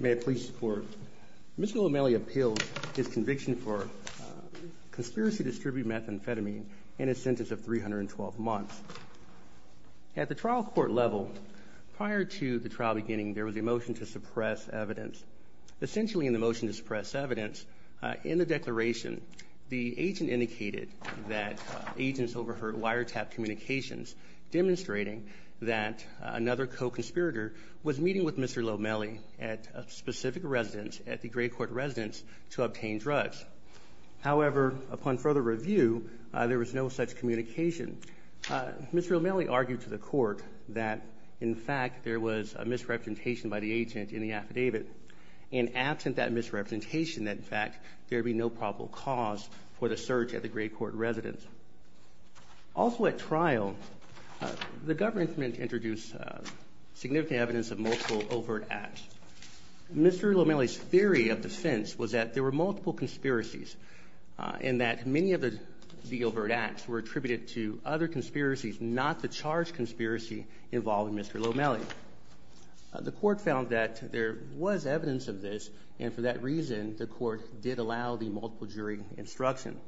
May I please report? Mr. Lomeli appealed his conviction for conspiracy to distribute methamphetamine in a sentence of 312 months. At the trial court level, prior to the trial beginning, there was a motion to suppress evidence. Essentially in the motion to suppress evidence, in the declaration, the agent indicated that agents overheard wiretapped communications demonstrating that another co-conspirator was meeting with Mr. Lomeli at a specific residence at the great court residence to obtain drugs. However, upon further review, there was no such communication. Mr. Lomeli argued to the court that in fact there was a misrepresentation by the agent in the affidavit. And absent that misrepresentation that in fact there would be no probable cause for the search at the great court residence. Also at trial, the government introduced significant evidence of multiple overt acts. Mr. Lomeli's theory of defense was that there were multiple conspiracies and that many of the overt acts were attributed to other conspiracies, not the charged conspiracy involving Mr. Lomeli. The court found that there was evidence of this, and for that reason, the court did allow the multiple jury instruction.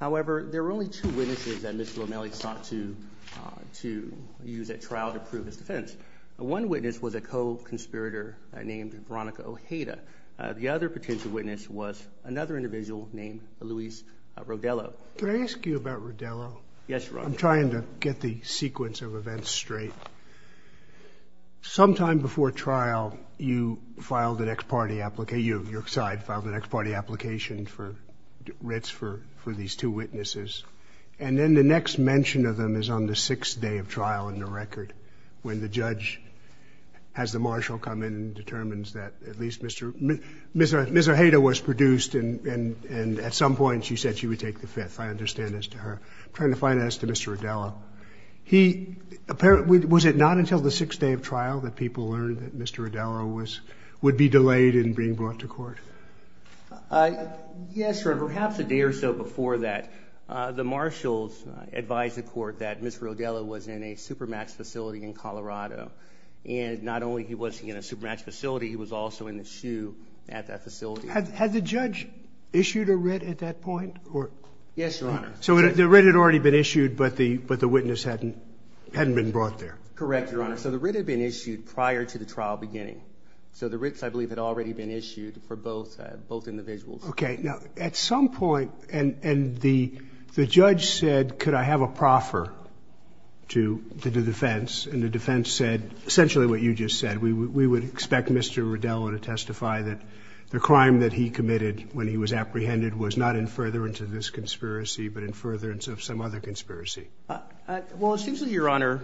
However, there were only two witnesses that Mr. Lomeli sought to use at trial to prove his defense. One witness was a co-conspirator named Veronica Ojeda. The other potential witness was another individual named Luis Rodelo. Can I ask you about Rodelo? Yes, Your Honor. I'm trying to get the sequence of events straight. Sometime before trial, you filed an ex-party, your side filed an ex-party application for writs for these two witnesses. And then the next mention of them is on the sixth day of trial in the record when the judge has the marshal come in and take the fifth. I understand as to her. I'm trying to find that as to Mr. Rodelo. Was it not until the sixth day of trial that people learned that Mr. Rodelo would be delayed in being brought to court? Yes, Your Honor. Perhaps a day or so before that, the marshals advised the court that Mr. Rodelo was in a supermatch facility in Colorado. And not only was he in a supermatch facility, he was also in the shoe at that facility. Had the judge issued a writ at that point? Yes, Your Honor. So the writ had already been issued, but the witness hadn't been brought there. Correct, Your Honor. So the writ had been issued prior to the trial beginning. So the writs, I believe, had already been issued for both individuals. Okay. Now, at some point, and the judge said, could I have a proffer to the defense? And the defense said essentially what you just said. We would expect Mr. Rodelo to testify that the crime that he committed when he was apprehended was not in furtherance of this conspiracy, but in furtherance of some other conspiracy. Well, it seems to me, Your Honor,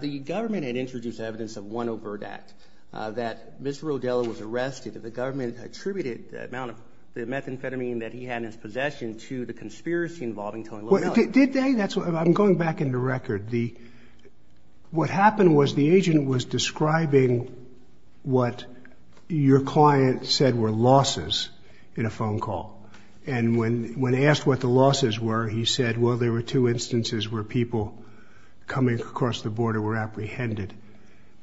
the government had introduced evidence of one overt act, that Mr. Rodelo was arrested. The government attributed the amount of methamphetamine that he had in his possession to the conspiracy involving Tony Little. Did they? I'm going back in the record. What happened was the agent was describing what your client said were losses in a phone call. And when asked what the losses were, he said, well, there were two instances where people coming across the border were apprehended.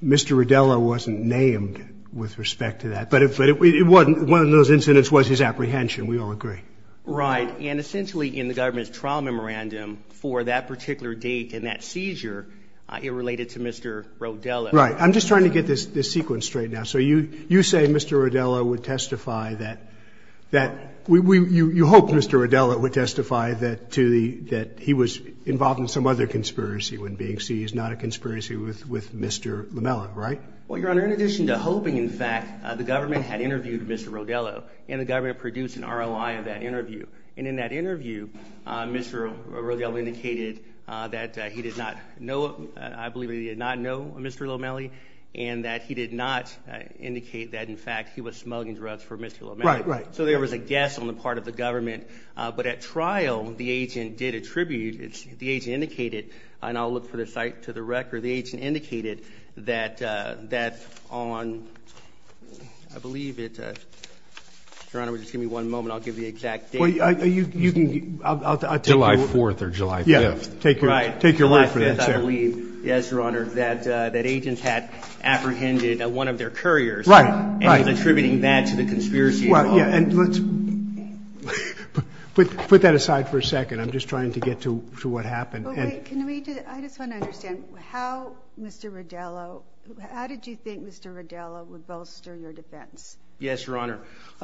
Mr. Rodelo wasn't named with respect to that. But one of those incidents was his apprehension. We all agree. Right. And essentially in the government's trial memorandum for that particular date and that seizure, it related to Mr. Rodelo. Right. I'm just trying to get this sequence straight now. So you say Mr. Rodelo would testify that you hoped Mr. Rodelo would testify that he was involved in some other conspiracy when being seized, not a conspiracy with Mr. Lamella, right? Well, Your Honor, in addition to hoping, in fact, the government had interviewed Mr. Rodelo and the government produced an ROI of that interview. And in that interview, Mr. Rodelo indicated that he did not know, I believe he did not know Mr. Lamella and that he did not indicate that, in fact, he was smuggling drugs for Mr. Lamella. Right, right. So there was a guess on the part of the government. But at trial, the agent did attribute, the agent indicated, and I'll look for the site to the record, the agent indicated that on, I believe it, Your Honor, just give me one moment, I'll give the exact date. July 4th or July 5th. Right. Take your word for it. July 5th, I believe, yes, Your Honor, that agents had apprehended one of their couriers. Right, right. And attributing that to the conspiracy. Well, yeah, and let's put that aside for a second. I'm just trying to get to what happened. But wait, can we, I just want to understand, how Mr. Rodelo, how did you think Mr. Rodelo would bolster your defense? Yes, Your Honor.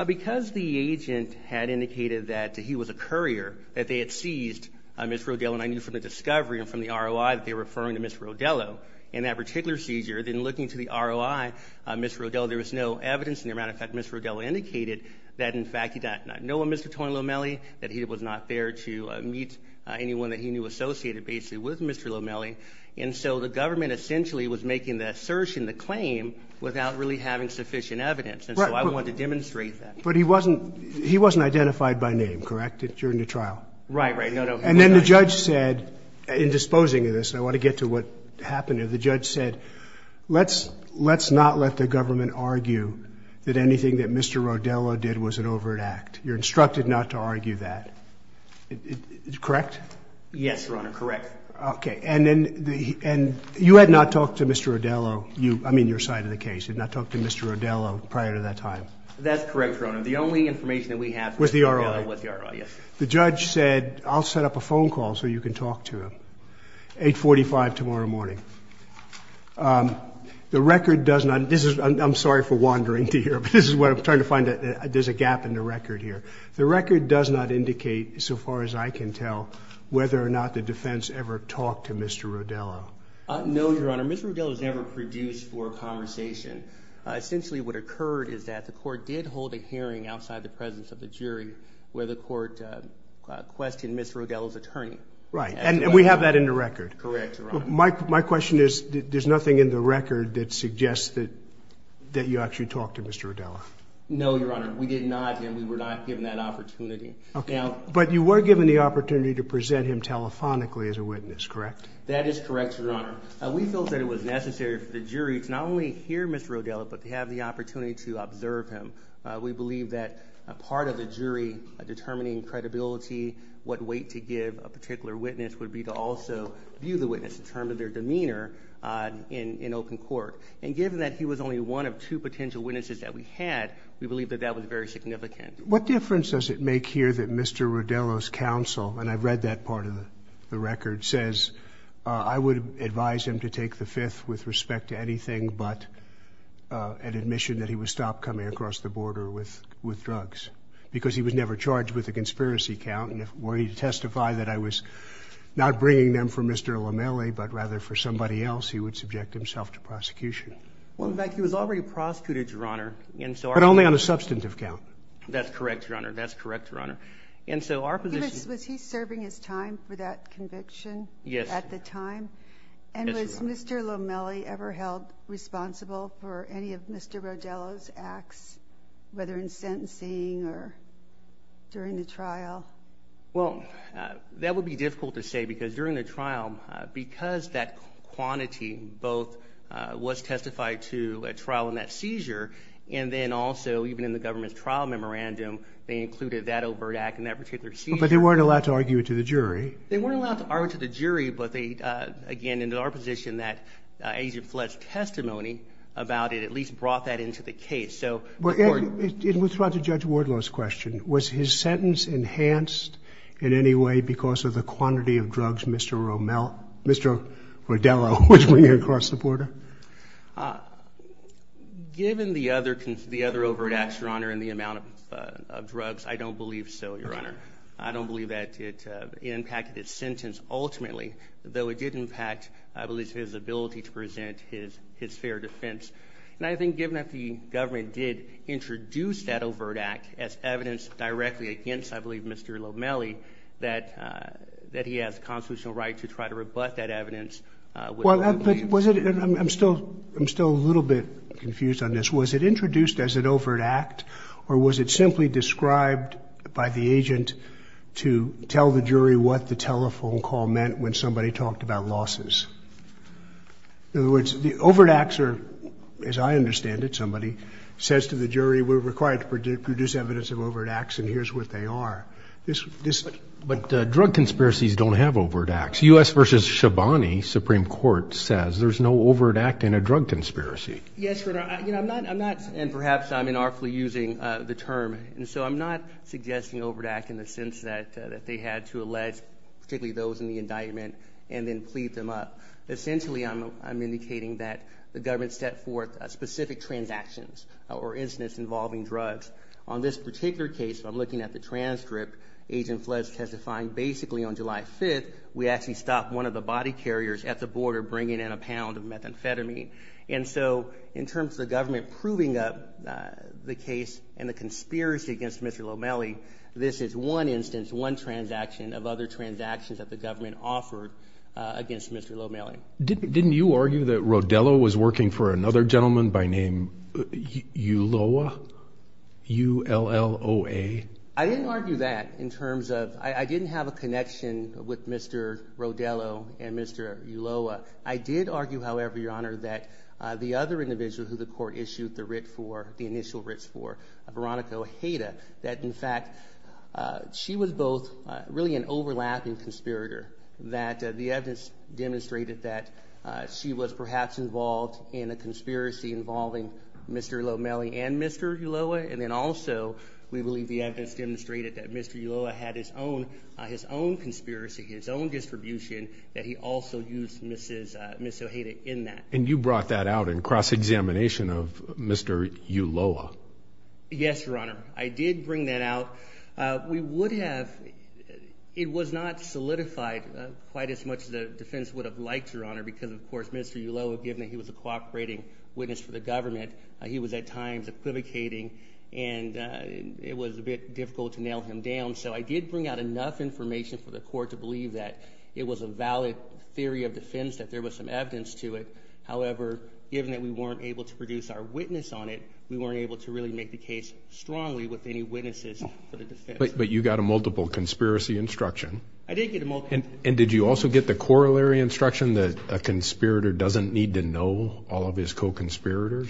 Because the agent had indicated that he was a courier, that they had seized Mr. Rodelo, and I knew from the discovery and from the ROI that they were referring to Mr. Rodelo in that particular seizure, then looking to the ROI, Mr. Rodelo, there was no evidence. As a matter of fact, Mr. Rodelo indicated that, in fact, he did not know a Mr. Tony Lomelli, that it was not fair to meet anyone that he knew associated, basically, with Mr. Lomelli. And so the government essentially was making the assertion, the claim, without really having sufficient evidence. And so I wanted to demonstrate that. But he wasn't, he wasn't identified by name, correct, during the trial? Right, right. No, no. And then the judge said, in disposing of this, and I want to get to what happened here, the judge said, let's not let the government argue that anything that Mr. Rodelo did was an overt act. You're instructed not to argue that. Correct? Yes, Your Honor, correct. Okay. And you had not talked to Mr. Rodelo, I mean, your side of the case, you had not talked to Mr. Rodelo prior to that time. That's correct, Your Honor. The only information that we have from Mr. Rodelo was the R.R., yes. The judge said, I'll set up a phone call so you can talk to him, 845 tomorrow morning. The record does not, this is, I'm sorry for wandering to here, but this is what I'm trying to find, there's a gap in the record here. The record does not indicate, so far as I can tell, whether or not the defense ever talked to Mr. Rodelo. No, Your Honor, Mr. Rodelo was never produced for conversation. Essentially what occurred is that the court did hold a hearing outside the presence of the jury where the court questioned Mr. Rodelo's attorney. Right, and we have that in the record. Correct, Your Honor. My question is, there's nothing in the record that suggests that you actually talked to Mr. Rodelo. No, Your Honor, we did not, and we were not given that opportunity. Okay, but you were given the opportunity to present him telephonically as a witness, correct? That is correct, Your Honor. We felt that it was necessary for the jury to not only hear Mr. Rodelo, but to have the opportunity to observe him. We believe that part of the jury determining credibility, what weight to give a particular witness, would be to also view the witness, determine their demeanor in open court. And given that he was only one of two potential witnesses that we had, we believe that that was very significant. What difference does it make here that Mr. Rodelo's counsel, and I've read that part of the record, says, I would advise him to take the fifth with respect to anything but an admission that he would stop coming across the border with drugs. Because he was never charged with a conspiracy count, and were he to testify that I was not bringing them for Mr. Lomelli, but rather for somebody else, he would subject himself to prosecution. Well, in fact, he was already prosecuted, Your Honor. But only on a substantive count. That's correct, Your Honor. That's correct, Your Honor. Was he serving his time for that conviction at the time? Yes, Your Honor. And was Mr. Lomelli ever held responsible for any of Mr. Rodelo's acts, whether in sentencing or during the trial? Well, that would be difficult to say, because during the trial, because that quantity both was testified to at trial in that seizure, and then also even in the government's trial memorandum, they included that overt act in that particular seizure. But they weren't allowed to argue it to the jury. They weren't allowed to argue it to the jury, but they, again, in our position, that Agent Flett's testimony about it at least brought that into the case. And with regard to Judge Wardlow's question, was his sentence enhanced in any way because of the quantity of drugs Mr. Rodelo was bringing across the border? Given the other overt acts, Your Honor, and the amount of drugs, I don't believe so, Your Honor. I don't believe that it impacted his sentence ultimately, though it did impact, I believe, his ability to present his fair defense. And I think given that the government did introduce that overt act as evidence directly against, I believe, Mr. Lomelli, that he has constitutional right to try to rebut that evidence. I'm still a little bit confused on this. Was it introduced as an overt act, or was it simply described by the agent to tell the jury what the telephone call meant when somebody talked about losses? In other words, the overt acts are, as I understand it, somebody says to the jury, we're required to produce evidence of overt acts, and here's what they are. But drug conspiracies don't have overt acts. U.S. v. Shabani, Supreme Court, says there's no overt act in a drug conspiracy. Yes, Your Honor. You know, I'm not, and perhaps I'm inartfully using the term, and so I'm not suggesting overt act in the sense that they had to allege, particularly those in the indictment, and then plead them up. Essentially, I'm indicating that the government set forth specific transactions or incidents involving drugs. On this particular case, if I'm looking at the transcript, Agent Fletch testifying basically on July 5th, we actually stopped one of the body carriers at the border bringing in a pound of methamphetamine. And so in terms of the government proving up the case and the conspiracy against Mr. Lomelli, this is one instance, one transaction of other transactions that the government offered against Mr. Lomelli. Didn't you argue that Rodello was working for another gentleman by name Ulloa, U-L-L-O-A? I didn't argue that in terms of – I didn't have a connection with Mr. Rodello and Mr. Ulloa. I did argue, however, Your Honor, that the other individual who the court issued the writ for, the initial writs for, Veronica Ojeda, that in fact she was both really an overlapping conspirator. That the evidence demonstrated that she was perhaps involved in a conspiracy involving Mr. Lomelli and Mr. Ulloa. And then also we believe the evidence demonstrated that Mr. Ulloa had his own conspiracy, his own distribution that he also used Ms. Ojeda in that. And you brought that out in cross-examination of Mr. Ulloa? Yes, Your Honor. I did bring that out. We would have – it was not solidified quite as much as the defense would have liked, Your Honor, because of course Mr. Ulloa, given that he was a cooperating witness for the government, he was at times equivocating and it was a bit difficult to nail him down. So I did bring out enough information for the court to believe that it was a valid theory of defense, that there was some evidence to it. However, given that we weren't able to produce our witness on it, we weren't able to really make the case strongly with any witnesses for the defense. But you got a multiple conspiracy instruction? I did get a multiple. And did you also get the corollary instruction that a conspirator doesn't need to know all of his co-conspirators?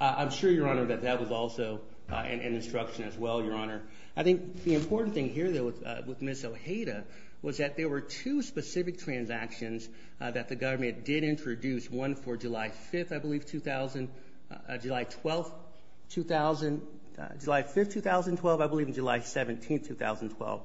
I'm sure, Your Honor, that that was also an instruction as well, Your Honor. I think the important thing here, though, with Ms. Ojeda was that there were two specific transactions that the government did introduce, one for July 5th, I believe, 2000, July 12th, 2000, July 5th, 2012, I believe, and July 17th, 2012.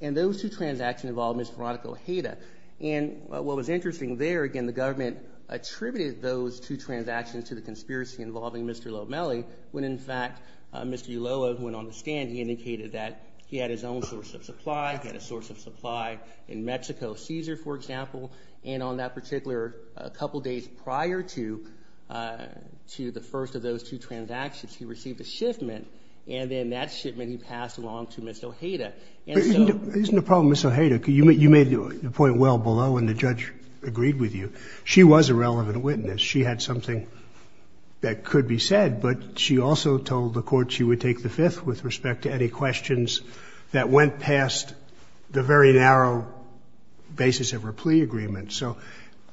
And those two transactions involved Ms. Veronica Ojeda. And what was interesting there, again, the government attributed those two transactions to the conspiracy involving Mr. Lomelli, when in fact Mr. Ulloa, who went on the stand, he indicated that he had his own source of supply, he had a source of supply in Mexico, Cesar, for example. And on that particular couple days prior to the first of those two transactions, he received a shipment, and then that shipment he passed along to Ms. Ojeda. But isn't the problem Ms. Ojeda? You made the point well below, and the judge agreed with you. She was a relevant witness. She had something that could be said, but she also told the court she would take the fifth with respect to any questions that went past the very narrow basis of her plea agreement. So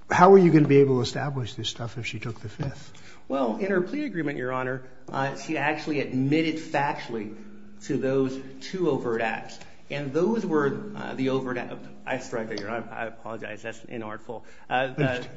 how were you going to be able to establish this stuff if she took the fifth? Well, in her plea agreement, Your Honor, she actually admitted factually to those two overt acts. And those were the overt acts. I struggled here. I apologize. That's inartful.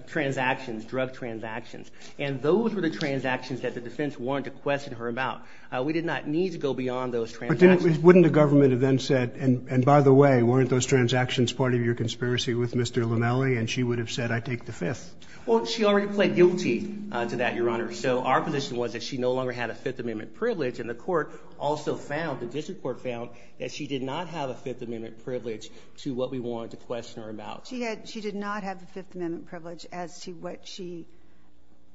Transactions, drug transactions. And those were the transactions that the defense wanted to question her about. We did not need to go beyond those transactions. But wouldn't the government have then said, and by the way, weren't those transactions part of your conspiracy with Mr. Linnelli, and she would have said, I take the fifth? Well, she already pled guilty to that, Your Honor. So our position was that she no longer had a Fifth Amendment privilege, and the court also found, the district court found, that she did not have a Fifth Amendment privilege to what we wanted to question her about. She did not have the Fifth Amendment privilege as to what she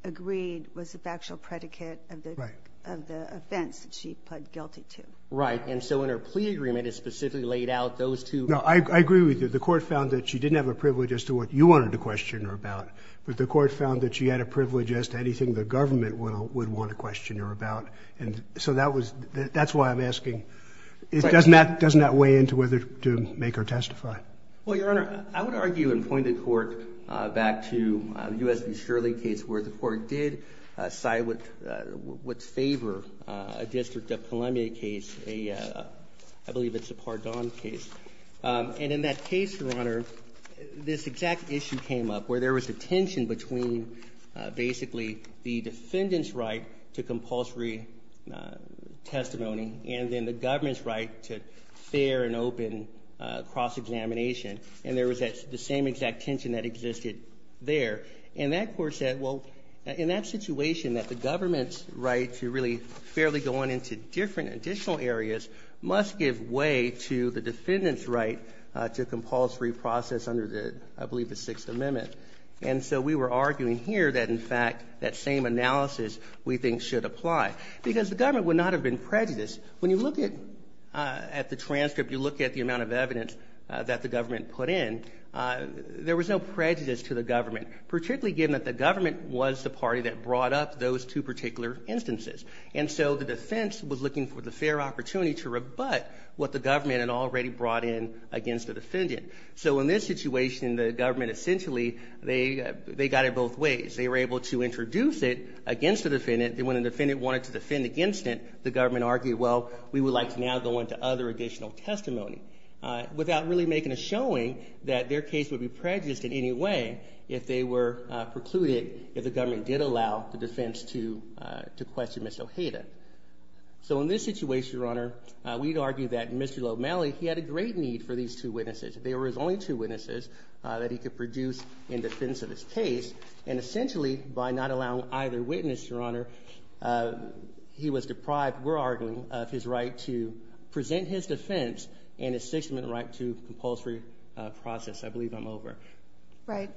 agreed was the factual predicate of the offense that she pled guilty to. Right. And so in her plea agreement, it specifically laid out those two. No, I agree with you. The court found that she didn't have a privilege as to what you wanted to question her about, but the court found that she had a privilege as to anything the government would want to question her about. And so that's why I'm asking, doesn't that weigh in to whether to make her testify? Well, Your Honor, I would argue and point the court back to the U.S. v. Shirley case where the court did side with what's in favor of a District of Columbia case, I believe it's a Pardon case. And in that case, Your Honor, this exact issue came up where there was a tension between basically the defendant's right to compulsory testimony and then the government's right to fair and open cross-examination. And there was the same exact tension that existed there. And that court said, well, in that situation that the government's right to really fairly go on into different additional areas must give way to the defendant's right to compulsory process under, I believe, the Sixth Amendment. And so we were arguing here that, in fact, that same analysis we think should apply because the government would not have been prejudiced. When you look at the transcript, you look at the amount of evidence that the government put in, there was no prejudice to the government, particularly given that the government was the party that brought up those two particular instances. And so the defense was looking for the fair opportunity to rebut what the government had already brought in against the defendant. So in this situation, the government essentially, they got it both ways. They were able to introduce it against the defendant, and when the defendant wanted to defend against it, the government argued, well, we would like to now go into other additional testimony, without really making a showing that their case would be prejudiced in any way if they were precluded, if the government did allow the defense to question Ms. Ojeda. So in this situation, Your Honor, we'd argue that Mr. Lomeli, he had a great need for these two witnesses. They were his only two witnesses that he could produce in defense of his case. And essentially, by not allowing either witness, Your Honor, he was deprived, we're arguing, of his right to present his defense and his 6th Amendment right to compulsory process. I believe I'm over. Right.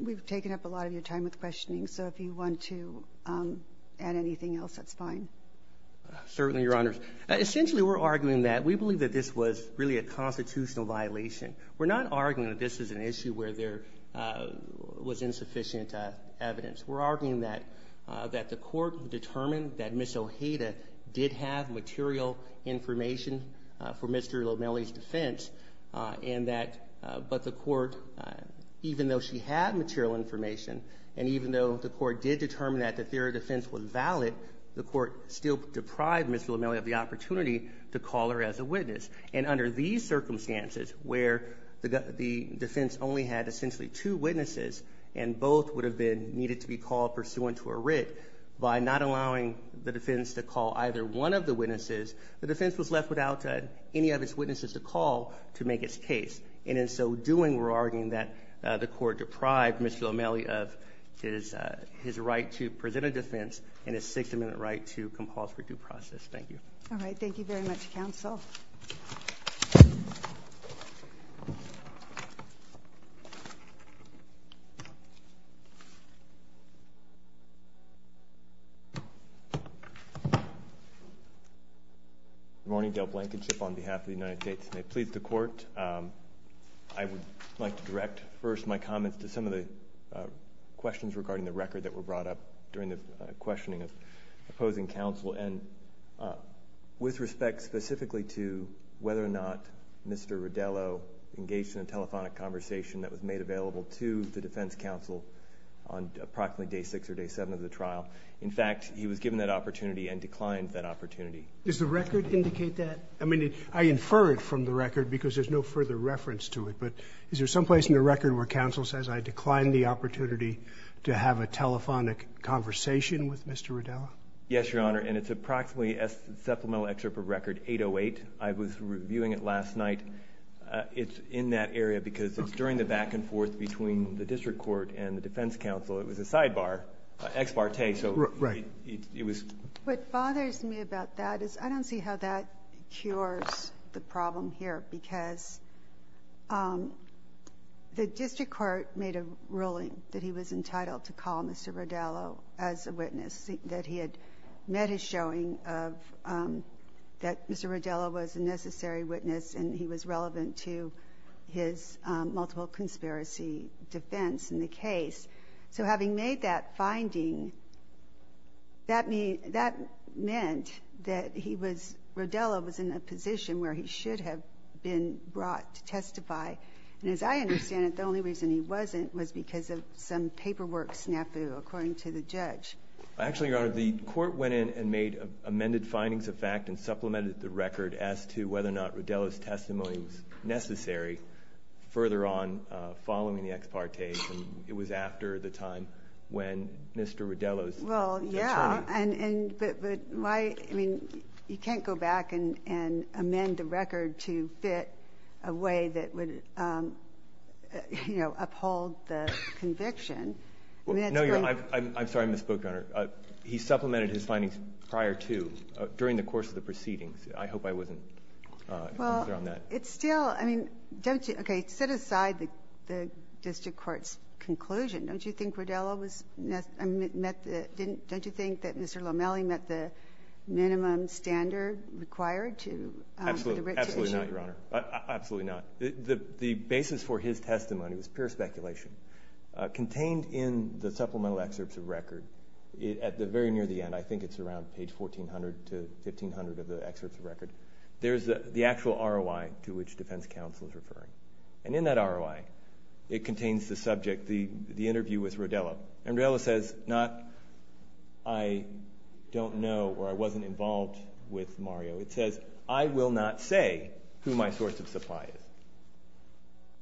We've taken up a lot of your time with questioning, so if you want to add anything else, that's fine. Certainly, Your Honors. Essentially, we're arguing that we believe that this was really a constitutional violation. We're not arguing that this is an issue where there was insufficient evidence. We're arguing that the court determined that Ms. Ojeda did have material information for Mr. Lomeli's defense, but the court, even though she had material information, and even though the court did determine that the theory of defense was valid, the court still deprived Mr. Lomeli of the opportunity to call her as a witness. And under these circumstances, where the defense only had essentially two witnesses and both would have been needed to be called pursuant to a writ, by not allowing the defense to call either one of the witnesses, the defense was left without any of its witnesses to call to make its case. And in so doing, we're arguing that the court deprived Mr. Lomeli of his right to present a defense and his 6th Amendment right to compulsory due process. Thank you. All right. Thank you very much, counsel. Good morning. Gail Blankenship on behalf of the United States. May it please the court, I would like to direct first my comments to some of the questions regarding the record that were brought up during the questioning of opposing counsel. And with respect specifically to whether or not Mr. Rodello engaged in a telephonic conversation that was made available to the defense counsel on approximately day 6 or day 7 of the trial. In fact, he was given that opportunity and declined that opportunity. Does the record indicate that? I mean, I infer it from the record because there's no further reference to it, but is there someplace in the record where counsel says, I declined the opportunity to have a telephonic conversation with Mr. Rodello? Yes, Your Honor, and it's approximately supplemental excerpt of record 808. I was reviewing it last night. It's in that area because it's during the back and forth between the district court and the defense counsel. It was a sidebar, ex parte. Right. What bothers me about that is I don't see how that cures the problem here because the district court made a ruling that he was entitled to call Mr. Rodello as a witness, that he had met his showing that Mr. Rodello was a necessary witness and he was relevant to his multiple conspiracy defense in the case. So having made that finding, that meant that Rodello was in a position where he should have been brought to testify. And as I understand it, the only reason he wasn't was because of some paperwork snafu, according to the judge. Actually, Your Honor, the court went in and made amended findings of fact and supplemented the record as to whether or not Rodello's testimony was necessary further on following the ex parte, and it was after the time when Mr. Rodello's attorney Well, yeah, but you can't go back and amend a record to fit a way that would uphold the conviction. No, Your Honor, I'm sorry I misspoke, Your Honor. He supplemented his findings prior to, during the course of the proceedings. I hope I wasn't unfair on that. Well, it's still, I mean, don't you, okay, set aside the district court's conclusion. Don't you think Rodello met the, don't you think that Mr. Lomeli met the minimum standard required to Absolutely, absolutely not, Your Honor. Absolutely not. The basis for his testimony was pure speculation. Contained in the supplemental excerpts of record, at the very near the end, I think it's around page 1400 to 1500 of the excerpts of record, there's the actual ROI to which defense counsel is referring. And in that ROI, it contains the subject, the interview with Rodello. And Rodello says, not I don't know or I wasn't involved with Mario. It says, I will not say who my source of supply is.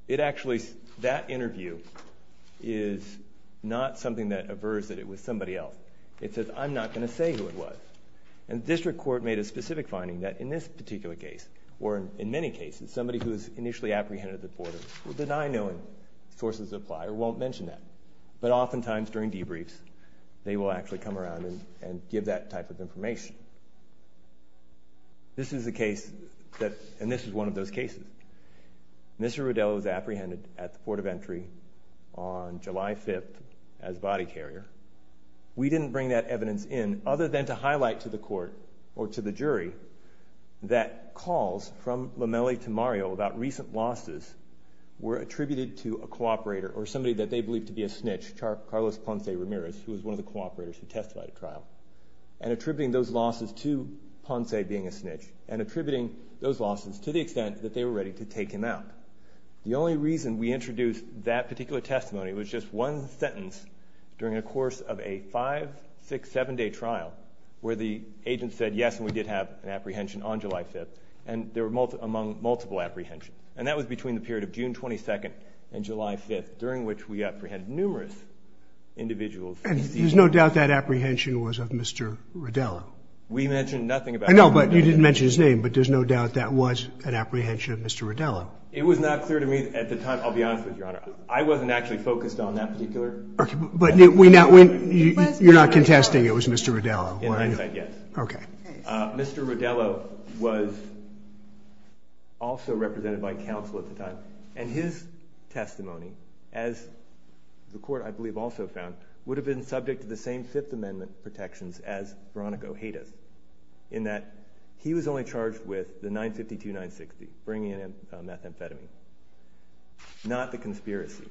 It actually, that interview is not something that averts that it was somebody else. It says, I'm not going to say who it was. And the district court made a specific finding that in this particular case, or in many cases, somebody who is initially apprehended at the border will deny knowing sources of supply or won't mention that. But oftentimes during debriefs, they will actually come around and give that type of information. This is a case that, and this is one of those cases. Mr. Rodello is apprehended at the port of entry on July 5th as body carrier. We didn't bring that evidence in other than to highlight to the court or to the jury that calls from Lomeli to Mario about recent losses were attributed to a cooperator or somebody that they believed to be a snitch, Carlos Ponce Ramirez, who was one of the cooperators who testified at trial. And attributing those losses to Ponce being a snitch and attributing those losses to the extent that they were ready to take him out. The only reason we introduced that particular testimony was just one sentence during the course of a five, six, seven day trial where the agent said yes and we did have an apprehension on July 5th and there were multiple apprehensions. And that was between the period of June 22nd and July 5th during which we apprehended numerous individuals. And there's no doubt that apprehension was of Mr. Rodello? We mentioned nothing about that. I know, but you didn't mention his name, but there's no doubt that was an apprehension of Mr. Rodello. It was not clear to me at the time. I'll be honest with you, Your Honor. I wasn't actually focused on that particular. But you're not contesting it was Mr. Rodello? Yes, I did. Okay. Mr. Rodello was also represented by counsel at the time and his testimony, as the court I believe also found, would have been subject to the same Fifth Amendment protections as Veronica Ojeda's in that he was only charged with the 952-960, bringing in methamphetamine, not the conspiracy.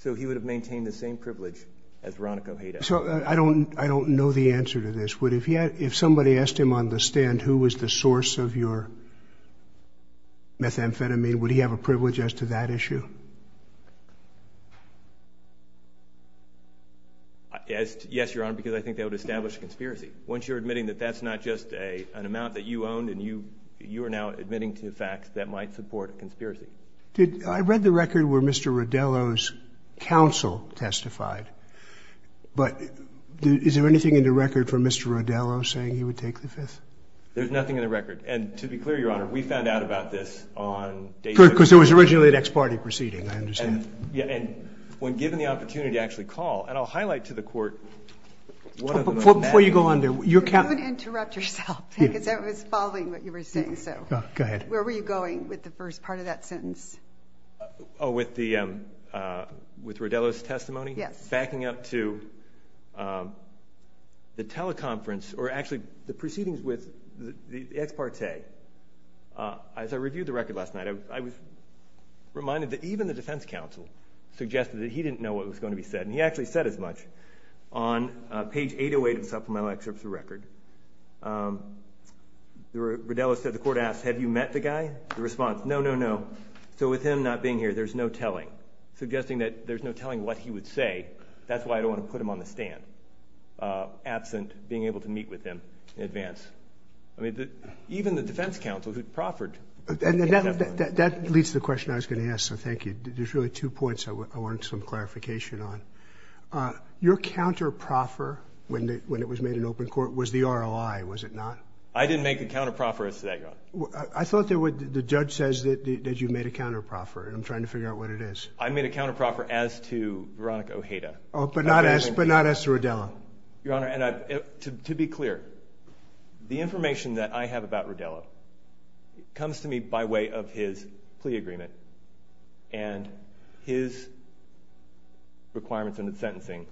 So he would have maintained the same privilege as Veronica Ojeda. I don't know the answer to this. If somebody asked him on the stand who was the source of your methamphetamine, would he have a privilege as to that issue? Yes, Your Honor, because I think that would establish a conspiracy. Once you're admitting that that's not just an amount that you owned and you are now admitting to facts that might support a conspiracy. I read the record where Mr. Rodello's counsel testified. But is there anything in the record for Mr. Rodello saying he would take the Fifth? There's nothing in the record. And to be clear, Your Honor, we found out about this on day six. Good, because there was originally an ex parte proceeding, I understand. Yeah, and when given the opportunity to actually call, and I'll highlight to the court one of the most magnificent. Before you go on there, your counsel. Don't interrupt yourself because I was following what you were saying. Go ahead. Where were you going with the first part of that sentence? Oh, with Rodello's testimony? Yes. Backing up to the teleconference, or actually the proceedings with the ex parte. As I reviewed the record last night, I was reminded that even the defense counsel suggested that he didn't know what was going to be said. And he actually said as much on page 808 of the supplemental excerpts of the record. Rodello said the court asked, have you met the guy? The response, no, no, no. So with him not being here, there's no telling, suggesting that there's no telling what he would say. That's why I don't want to put him on the stand, absent being able to meet with him in advance. I mean, even the defense counsel who proffered. And that leads to the question I was going to ask, so thank you. There's really two points I want some clarification on. Your counter proffer when it was made in open court was the ROI, was it not? I didn't make a counter proffer as to that, Your Honor. I thought the judge says that you made a counter proffer, and I'm trying to figure out what it is. I made a counter proffer as to Veronica Ojeda. But not as to Rodello? Your Honor, to be clear, the information that I have about Rodello comes to me by way of his plea agreement and his requirements on the sentencing.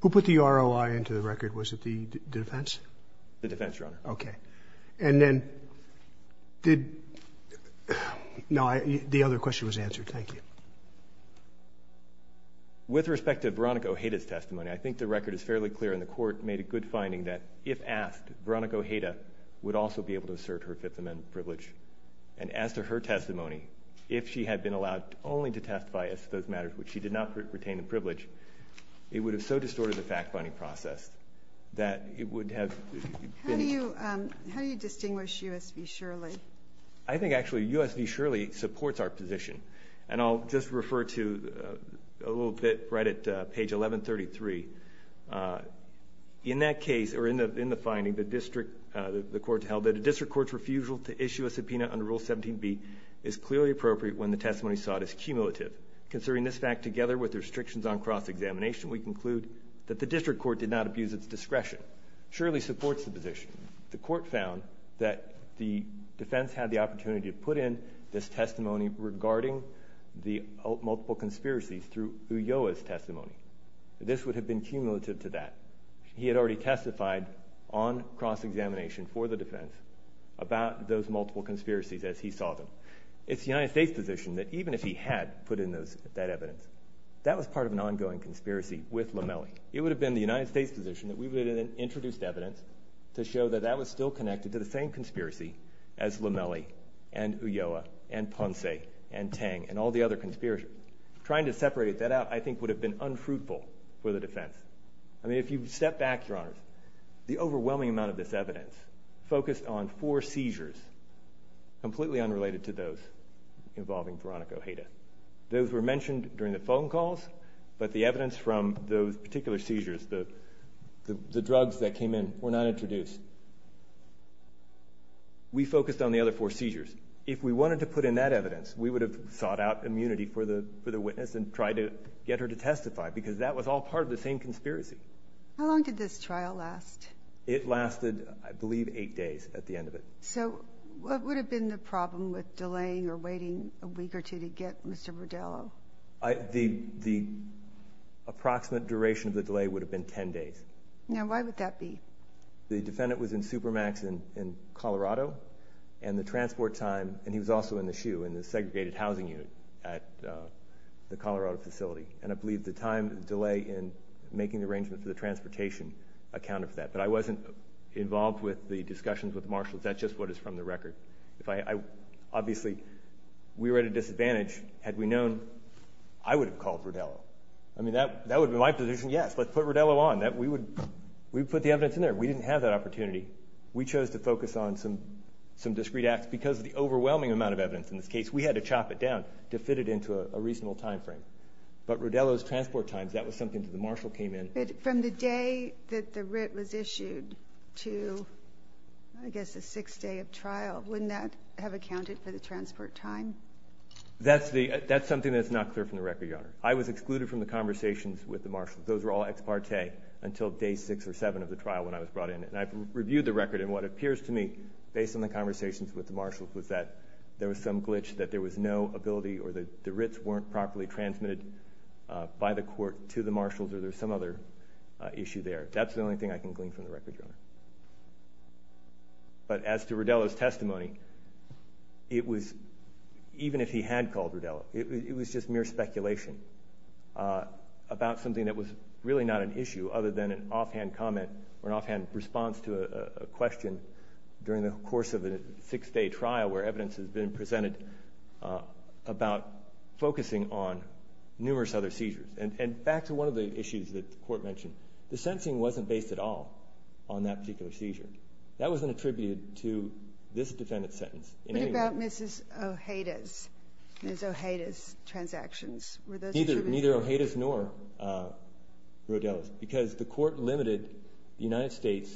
Who put the ROI into the record? Was it the defense? The defense, Your Honor. Okay. And then did, no, the other question was answered. Thank you. With respect to Veronica Ojeda's testimony, I think the record is fairly clear, and the court made a good finding that if asked, Veronica Ojeda would also be able to assert her Fifth Amendment privilege. And as to her testimony, if she had been allowed only to testify as to those matters which she did not retain the privilege, it would have so distorted the fact-finding process that it would have been- How do you distinguish U.S. v. Shirley? I think actually U.S. v. Shirley supports our position, and I'll just refer to a little bit right at page 1133. In that case, or in the finding, the court held that a district court's refusal to issue a subpoena under Rule 17b is clearly appropriate when the testimony sought is cumulative. Considering this fact together with the restrictions on cross-examination, we conclude that the district court did not abuse its discretion. Shirley supports the position. The court found that the defense had the opportunity to put in this testimony regarding the multiple conspiracies through Ulloa's testimony. This would have been cumulative to that. He had already testified on cross-examination for the defense about those multiple conspiracies as he saw them. It's the United States' position that even if he had put in that evidence, that was part of an ongoing conspiracy with Lomelli. It would have been the United States' position that we would have introduced evidence to show that that was still connected to the same conspiracy as Lomelli and Ulloa and Ponce and Tang and all the other conspirators. Trying to separate that out, I think, would have been unfruitful for the defense. I mean, if you step back, Your Honor, the overwhelming amount of this evidence focused on four seizures completely unrelated to those involving Veronica Ojeda. Those were mentioned during the phone calls, but the evidence from those particular seizures, the drugs that came in, were not introduced. We focused on the other four seizures. If we wanted to put in that evidence, we would have sought out immunity for the witness and tried to get her to testify because that was all part of the same conspiracy. How long did this trial last? It lasted, I believe, eight days at the end of it. So what would have been the problem with delaying or waiting a week or two to get Mr. Rudello? The approximate duration of the delay would have been 10 days. Now, why would that be? The defendant was in Supermax in Colorado, and the transport time, and he was also in the SHU, in the segregated housing unit at the Colorado facility, and I believe the time delay in making the arrangement for the transportation accounted for that. But I wasn't involved with the discussions with Marshall. That's just what is from the record. Obviously, we were at a disadvantage. Had we known, I would have called Rudello. I mean, that would have been my position, yes, let's put Rudello on. We would put the evidence in there. We didn't have that opportunity. We chose to focus on some discreet acts because of the overwhelming amount of evidence in this case. We had to chop it down to fit it into a reasonable time frame. But Rudello's transport time, that was something that the Marshall came in. But from the day that the writ was issued to, I guess, the sixth day of trial, wouldn't that have accounted for the transport time? That's something that's not clear from the record, Your Honor. I was excluded from the conversations with the Marshalls. Those were all ex parte until day six or seven of the trial when I was brought in. And I've reviewed the record, and what appears to me, based on the conversations with the Marshalls, was that there was some glitch, that there was no ability or that the writs weren't properly transmitted by the court to the Marshalls or there was some other issue there. That's the only thing I can glean from the record, Your Honor. But as to Rudello's testimony, it was, even if he had called Rudello, it was just mere speculation about something that was really not an issue other than an offhand comment or an offhand response to a question during the course of a six-day trial where evidence has been presented about focusing on numerous other seizures. And back to one of the issues that the court mentioned, the sentencing wasn't based at all on that particular seizure. That wasn't attributed to this defendant's sentence in any way. What about Mrs. Ojeda's transactions? Neither Ojeda's nor Rudello's, because the court limited the United States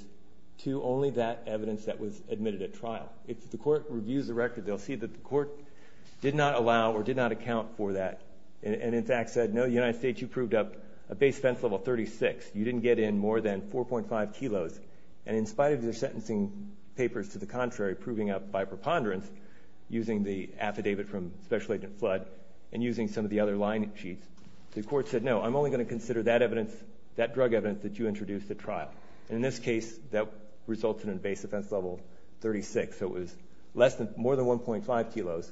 to only that evidence that was admitted at trial. If the court reviews the record, they'll see that the court did not allow or did not account for that and, in fact, said, No, United States, you proved up a base offense level 36. You didn't get in more than 4.5 kilos. And in spite of their sentencing papers to the contrary proving up by preponderance using the affidavit from Special Agent Flood and using some of the other line sheets, the court said, No, I'm only going to consider that drug evidence that you introduced at trial. And in this case, that resulted in a base offense level 36. So it was more than 1.5 kilos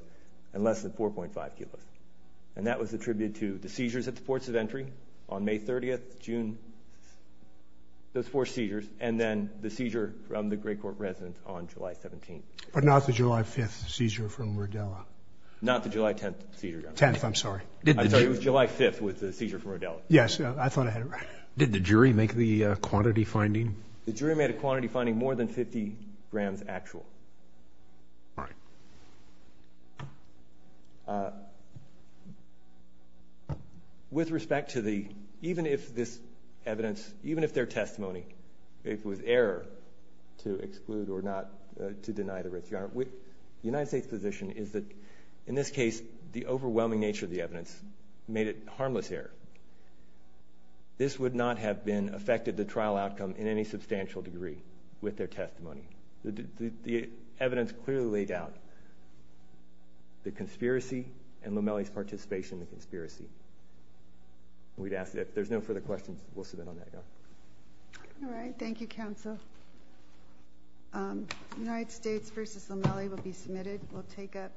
and less than 4.5 kilos. And that was attributed to the seizures at the ports of entry on May 30th, June, those four seizures, and then the seizure from the great court residence on July 17th. But not the July 5th seizure from Rudello. Not the July 10th seizure, Your Honor. 10th, I'm sorry. I'm sorry, it was July 5th was the seizure from Rudello. Yes, I thought I had it right. Did the jury make the quantity finding? The jury made a quantity finding more than 50 grams actual. All right. With respect to the, even if this evidence, even if their testimony, if it was error to exclude or not to deny the risk, Your Honor, the United States position is that, in this case, the overwhelming nature of the evidence made it harmless error. This would not have been affected the trial outcome in any substantial degree with their testimony. The evidence clearly laid out the conspiracy and Lomelli's participation in the conspiracy. We'd ask that if there's no further questions, we'll submit on that, Your Honor. All right, thank you, counsel. United States v. Lomelli will be submitted. We'll take up.